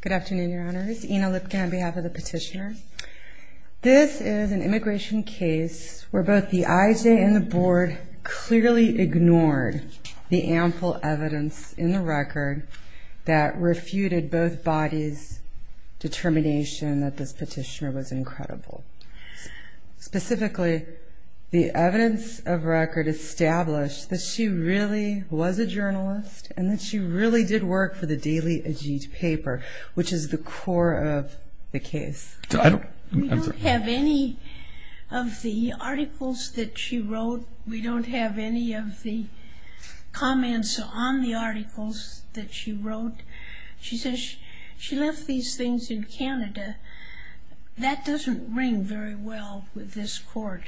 Good afternoon, Your Honors. Ina Lipkin on behalf of the petitioner. This is an immigration case where both the IJ and the board clearly ignored the ample evidence in the record that refuted both bodies' determination that this petitioner was incredible. Specifically, the evidence of record established that she really was a journalist and that she really did work for the Daily Ajit paper, which is the core of the case. We don't have any of the articles that she wrote. We don't have any of the comments on the articles that she wrote. She says she left these things in Canada. That doesn't ring very well with this court.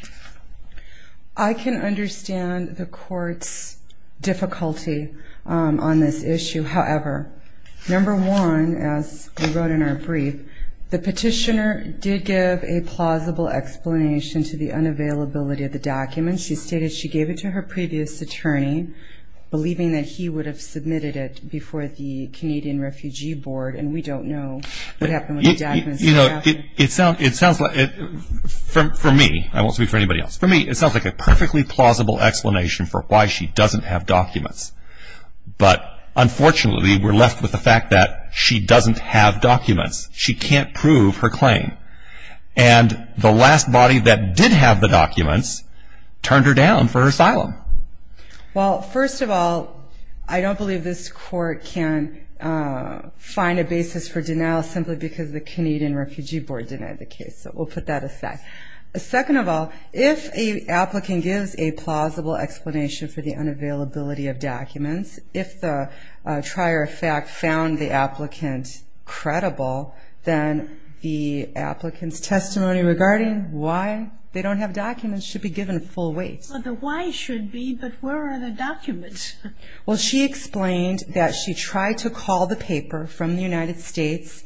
I can understand the court's difficulty on this issue. However, number one, as we wrote in our brief, the petitioner did give a plausible explanation to the unavailability of the document. She stated she gave it to her previous attorney, believing that he would have submitted it before the Canadian Refugee Board, and we don't know what happened with the documents. You know, it sounds like, for me, I won't speak for anybody else, for me it sounds like a perfectly plausible explanation for why she doesn't have documents, but unfortunately we're left with the fact that she doesn't have documents. She can't prove her claim, and the last body that did have the documents turned her down for asylum. Well, first of all, I don't believe this court can find a basis for denial simply because the Canadian Refugee Board denied the case, so we'll put that aside. Second of all, if a applicant gives a plausible explanation for the unavailability of documents, if the trier of fact found the applicant credible, then the applicant's testimony regarding why they don't have documents should be given full weight. Well, the why should be, but where are the documents? Well, she explained that she tried to call the paper from the United States,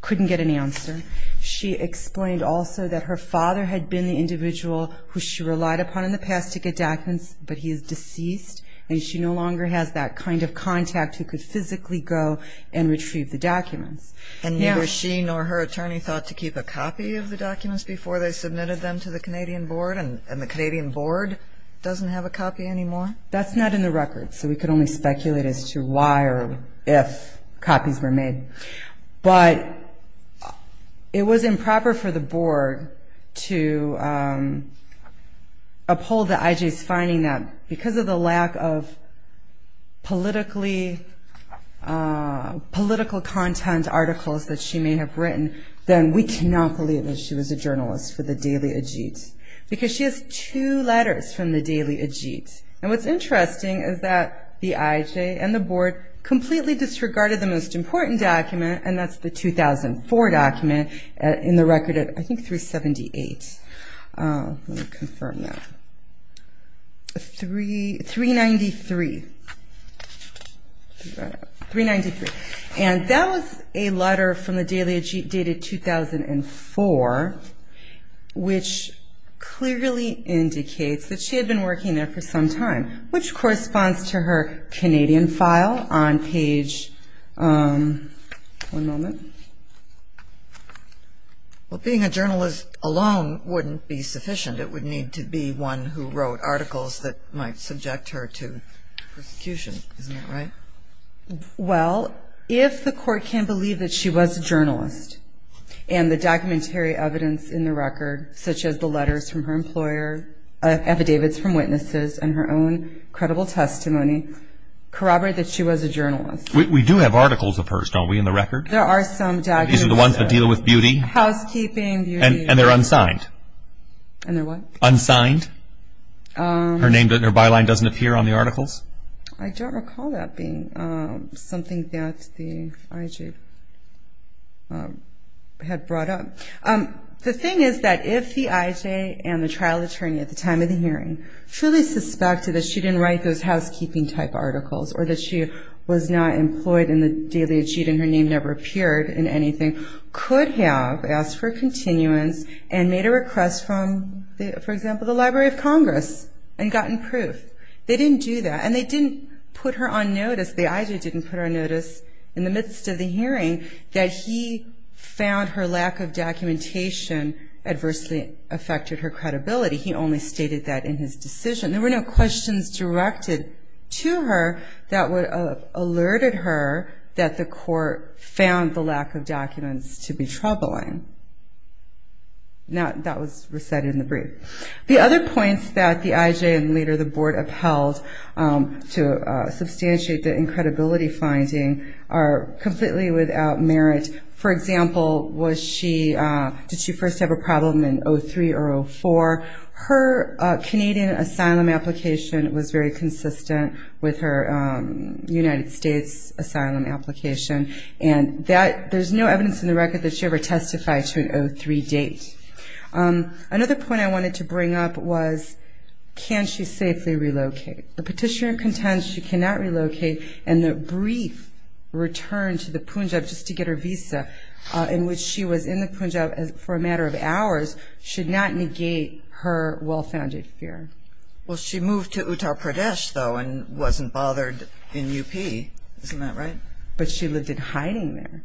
couldn't get an answer. She explained also that her father had been the individual who she relied upon in the past to get documents, but he is deceased, and she no longer has that kind of contact who could physically go and retrieve the documents. And neither she nor her attorney thought to keep a copy of the documents before they submitted them to the Canadian Board, and the Canadian Board doesn't have a copy anymore? That's not in the record, so we could only speculate as to why or if copies were made. But it was improper for the Board to uphold the IJ's finding that because of the lack of political content articles that she may have written, then we cannot believe that she was a journalist for the Daily Ajit, because she has two letters from the Daily Ajit. And what's interesting is that the IJ and the Board completely disregarded the most important document, and that's the 2004 document in the record at, I think, 378. Let me confirm that. 393, 393. And that was a letter from the Daily Ajit dated 2004, which clearly indicates that she had been working there for some time, which corresponds to her Canadian file on page... One moment. Well, being a journalist alone wouldn't be sufficient. It would need to be one who wrote articles that might subject her to prosecution. Isn't that right? Well, if the court can believe that she was a journalist, and the documentary evidence in the record, such as the letters from her employer, affidavits from witnesses, and her own credible testimony corroborate that she was a journalist... We do have articles of hers, don't we, in the record? There are some documents. These are the ones that deal with beauty? Housekeeping, beauty... And they're unsigned? And they're what? Unsigned? Her name, her byline doesn't appear on the articles? I don't recall that being something that the IJ had brought up. The thing is that if the IJ and the trial attorney at the time of the hearing fully suspected that she didn't write those housekeeping-type articles, or that she was not employed in the Daily Ajit and her name never appeared in anything, could have asked for continuance and made a request from, for example, the Library of Congress and gotten proof. They didn't do that. And they didn't put her on notice. The IJ didn't put her on notice in the midst of the hearing that he found her lack of documentation adversely affected her credibility. He only stated that in his decision. There were no questions directed to her that would have alerted her that the court found the lack of documents to be troubling. Now, that was recited in the brief. The other points that the IJ and later the board upheld to substantiate the incredibility finding are completely without merit. For example, did she first have a problem in 03 or 04? Her Canadian asylum application was very consistent with her United States asylum application. And there's no evidence in the record that she ever testified to an 03 date. Another point I wanted to bring up was, can she safely relocate? The petitioner contends she cannot relocate and the brief return to the Punjab just to get her visa in which she was in the Punjab for a matter of hours should not negate her well-founded fear. Well, she moved to Uttar Pradesh, though, and wasn't bothered in UP. Isn't that right? But she lived in hiding there.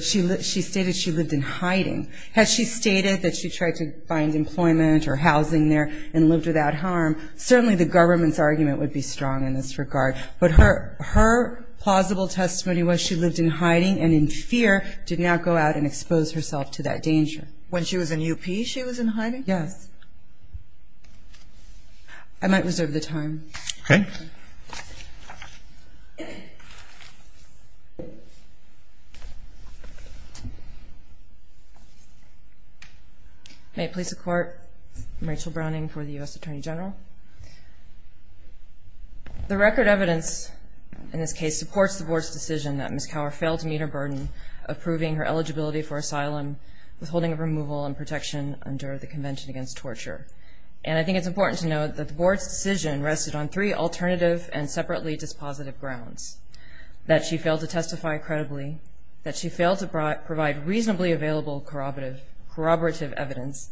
She stated she lived in hiding. Had she stated that she tried to find employment or housing there and lived without harm, certainly the government's argument would be strong in this regard. But her plausible testimony was she lived in hiding and in fear did not go out and expose herself to that danger. When she was in UP, she was in hiding? Yes. I might reserve the time. Okay. May it please the Court, I'm Rachel Browning for the U.S. Attorney General. The record evidence in this case supports the Board's decision that Ms. Cower failed to meet her burden of proving her eligibility for asylum withholding of removal and protection under the Convention Against Torture. And I think it's important to note that the Board's decision rested on three alternative and separately dispositive grounds. That she failed to testify credibly. That she failed to provide reasonably available corroborative evidence.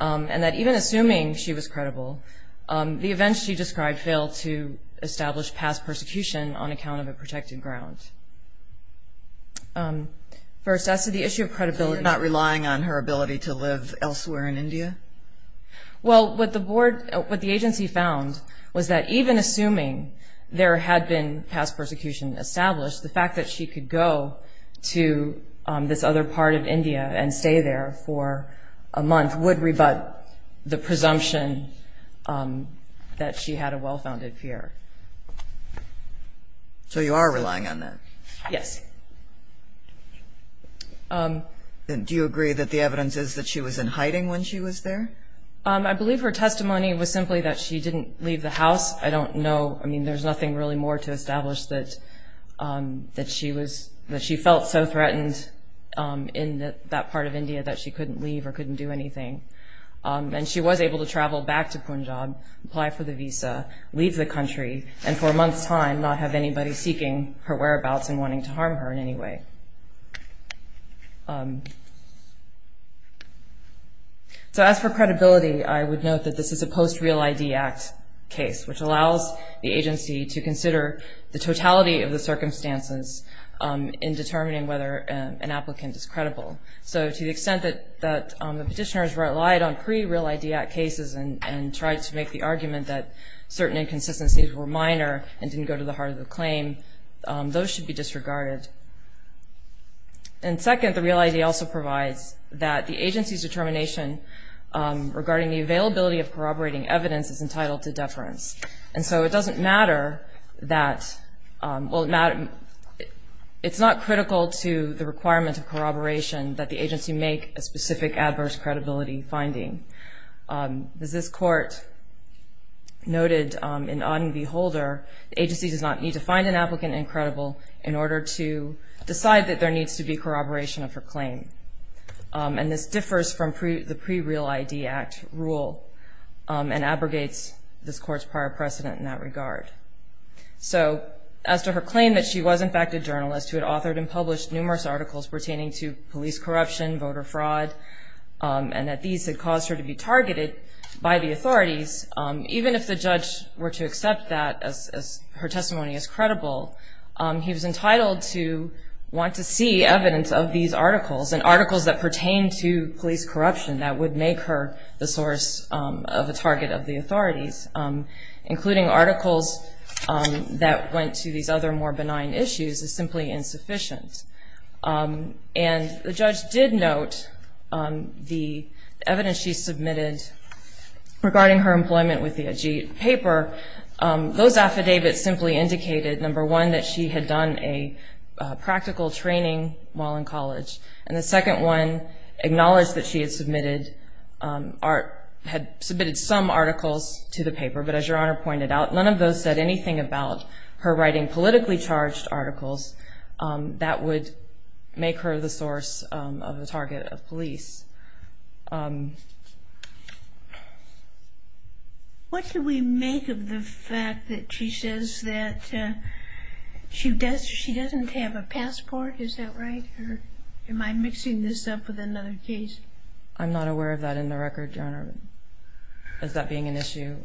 And that even assuming she was credible, the events she described failed to establish past persecution on account of a protected ground. First, as to the issue of credibility. Not relying on her ability to live elsewhere in India? Well, what the agency found was that even assuming there had been past persecution established, the fact that she could go to this other part of India and stay there for a month would rebut the presumption that she had a well-founded fear. So you are relying on that? Yes. Do you agree that the evidence is that she was in hiding when she was there? I believe her testimony was simply that she didn't leave the house. I don't know, I mean, there's nothing really more to establish that she was, that she felt so threatened in that part of India that she couldn't leave or couldn't do anything. And she was able to travel back to Punjab, apply for the visa, leave the country, and for a month's time not have anybody seeking her whereabouts and wanting to harm her in any way. So as for credibility, I would note that this is a post-Real ID Act case, which allows the agency to consider the totality of the circumstances in determining whether an applicant is credible. So to the extent that the petitioners relied on pre-Real ID Act cases and tried to make the argument that certain inconsistencies were minor and didn't go to the heart of the claim, those should be disregarded. And second, the Real ID also provides that the agency's determination regarding the availability of corroborating evidence is entitled to deference. And so it doesn't matter that, well, it's not critical to the requirement of corroboration that the agency make a specific adverse credibility finding. As this court noted in Auden v. Holder, the agency does not need to find an applicant incredible in order to decide that there needs to be corroboration of her claim. And this differs from the pre-Real ID Act rule and abrogates this court's prior precedent in that regard. So as to her claim that she was, in fact, a journalist who had authored and published numerous articles pertaining to police corruption, voter fraud, and that these had caused her to be targeted by the authorities, even if the judge were to accept that as her testimony is credible, he was entitled to want to see evidence of these articles and articles that pertain to police corruption that would make her the source of a target of the authorities, including articles that went to these other more benign issues as simply insufficient. And the judge did note the evidence she submitted regarding her employment with the AG paper. Those affidavits simply indicated, number one, that she had done a practical training while in college. And the second one acknowledged that she had submitted some articles to the paper. But as Your Honor pointed out, none of those said anything about her writing politically charged articles that would make her the source of a target of police. What do we make of the fact that she says that she doesn't have a passport? Is that right? Or am I mixing this up with another case? I'm not aware of that in the record, Your Honor, as that being an issue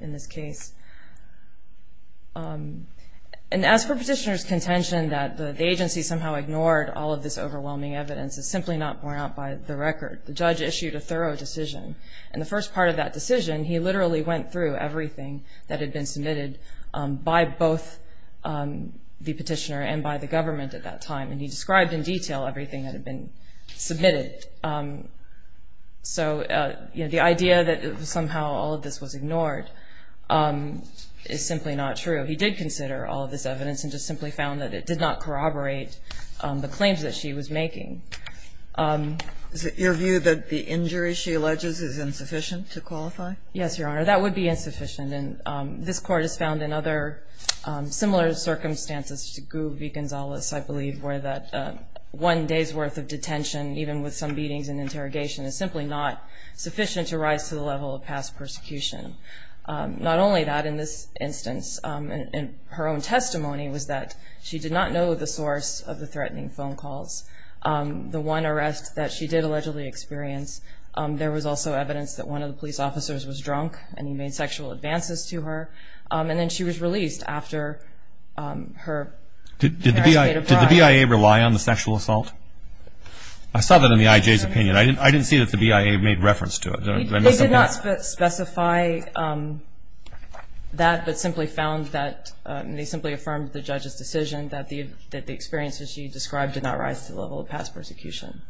in this case. And as for Petitioner's contention that the agency somehow ignored all of this overwhelming evidence, it's simply not borne out by the record. The judge issued a thorough decision. In the first part of that decision, he literally went through everything that had been submitted by both the petitioner and by the government at that time. And he described in detail everything that had been submitted. So, you know, the idea that somehow all of this was ignored is simply not true. He did consider all of this evidence and just simply found that it did not corroborate the claims that she was making. Is it your view that the injury she alleges is insufficient to qualify? Yes, Your Honor. That would be insufficient. And this Court has found in other similar circumstances to Gu v. Gonzalez, I believe, where that one day's worth of detention, even with some beatings and interrogation, is simply not sufficient to rise to the level of past persecution. Not only that, in this instance, in her own testimony was that she did not know the source of the threatening phone calls. The one arrest that she did allegedly experience, there was also evidence that one of the police officers was drunk and he made sexual advances to her. And then she was released after her parents made a bribe. Did the BIA rely on the sexual assault? I saw that in the I.J.'s opinion. I didn't see that the BIA made reference to it. They did not specify that, but simply found that they simply affirmed the judge's decision that the experience that she described did not rise to the level of past persecution.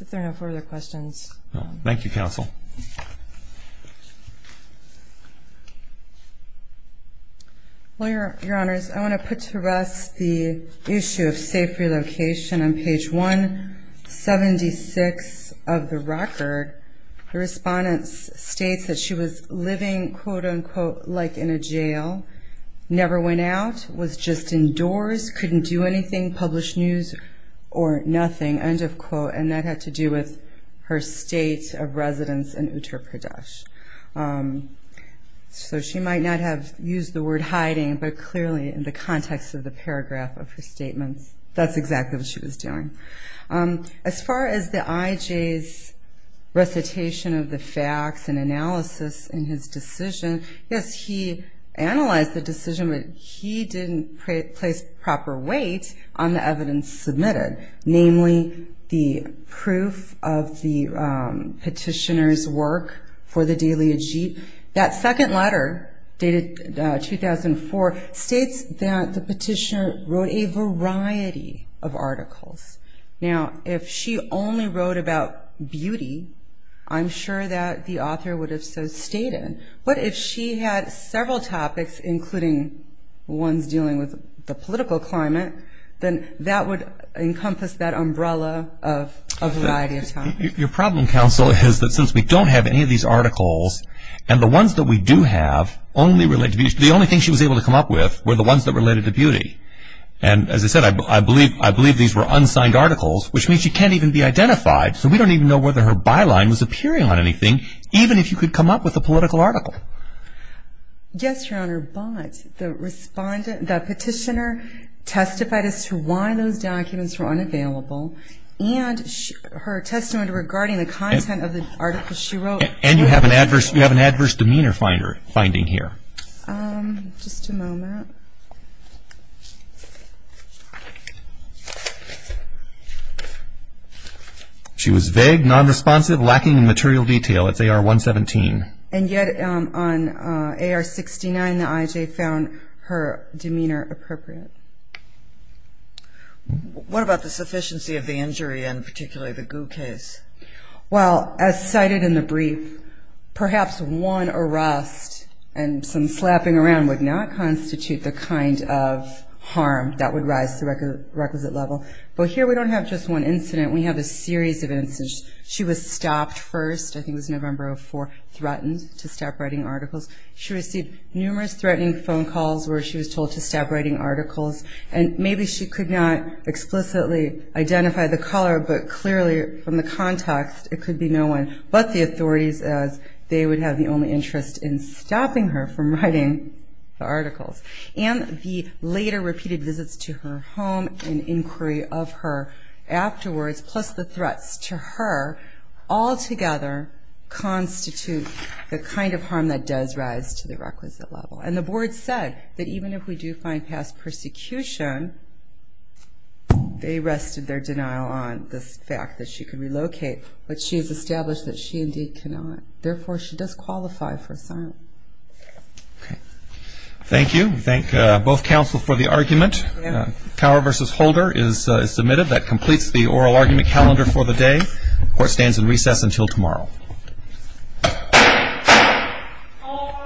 If there are no further questions. Thank you, Counsel. Well, Your Honors, I want to put to rest the issue of safe relocation. On page 176 of the record, the respondent states that she was living, quote, unquote, like in a jail, never went out, was just indoors, couldn't do anything, published news or nothing, end of quote, and that had to do with her state of residence in Uttar Pradesh. So she might not have used the word hiding, but clearly in the context of the paragraph of her statement, that's exactly what she was doing. As far as the I.J.'s recitation of the facts and analysis in his decision, yes, he analyzed the decision, but he didn't place proper weight on the evidence submitted, namely the proof of the petitioner's work for the daily Ijt. That second letter, dated 2004, states that the petitioner wrote a variety of articles. Now, if she only wrote about beauty, I'm sure that the author would have so stated. But if she had several topics, including ones dealing with the political climate, then that would encompass that umbrella of a variety of topics. Your problem, counsel, is that since we don't have any of these articles, and the ones that we do have only relate to beauty, the only things she was able to come up with were the ones that related to beauty. And as I said, I believe these were unsigned articles, which means she can't even be identified, so we don't even know whether her byline was appearing on the political article. Yes, Your Honor, but the petitioner testified as to why those documents were unavailable, and her testament regarding the content of the article she wrote. And you have an adverse demeanor finding here. Just a moment. She was vague, nonresponsive, lacking in material detail. It's AR 117. And yet on AR 69, the IJ found her demeanor appropriate. What about the sufficiency of the injury, and particularly the goo case? Well, as cited in the brief, perhaps one arrest and some slapping around would not constitute the kind of harm that would rise to the requisite level. But here we don't have just one incident, we have a series of incidents. She was stopped first, I think it was November of 2004, threatened to stop writing articles. She received numerous threatening phone calls where she was told to stop writing articles, and maybe she could not explicitly identify the caller, but clearly from the context, it could be no one but the authorities, as they would have the only interest in stopping her from writing the articles. And the later repeated visits to her home and inquiry of her afterwards, plus the threats to her, altogether constitute the kind of harm that does rise to the requisite level. And the board said that even if we do find past persecution, they rested their denial on the fact that she could relocate, but she has established that she indeed cannot. Therefore, she does qualify for asylum. Okay. Thank you. We thank both counsel for the argument. Power v. Holder is submitted. That completes the oral argument calendar for the day. Court stands in recess until tomorrow. All rise.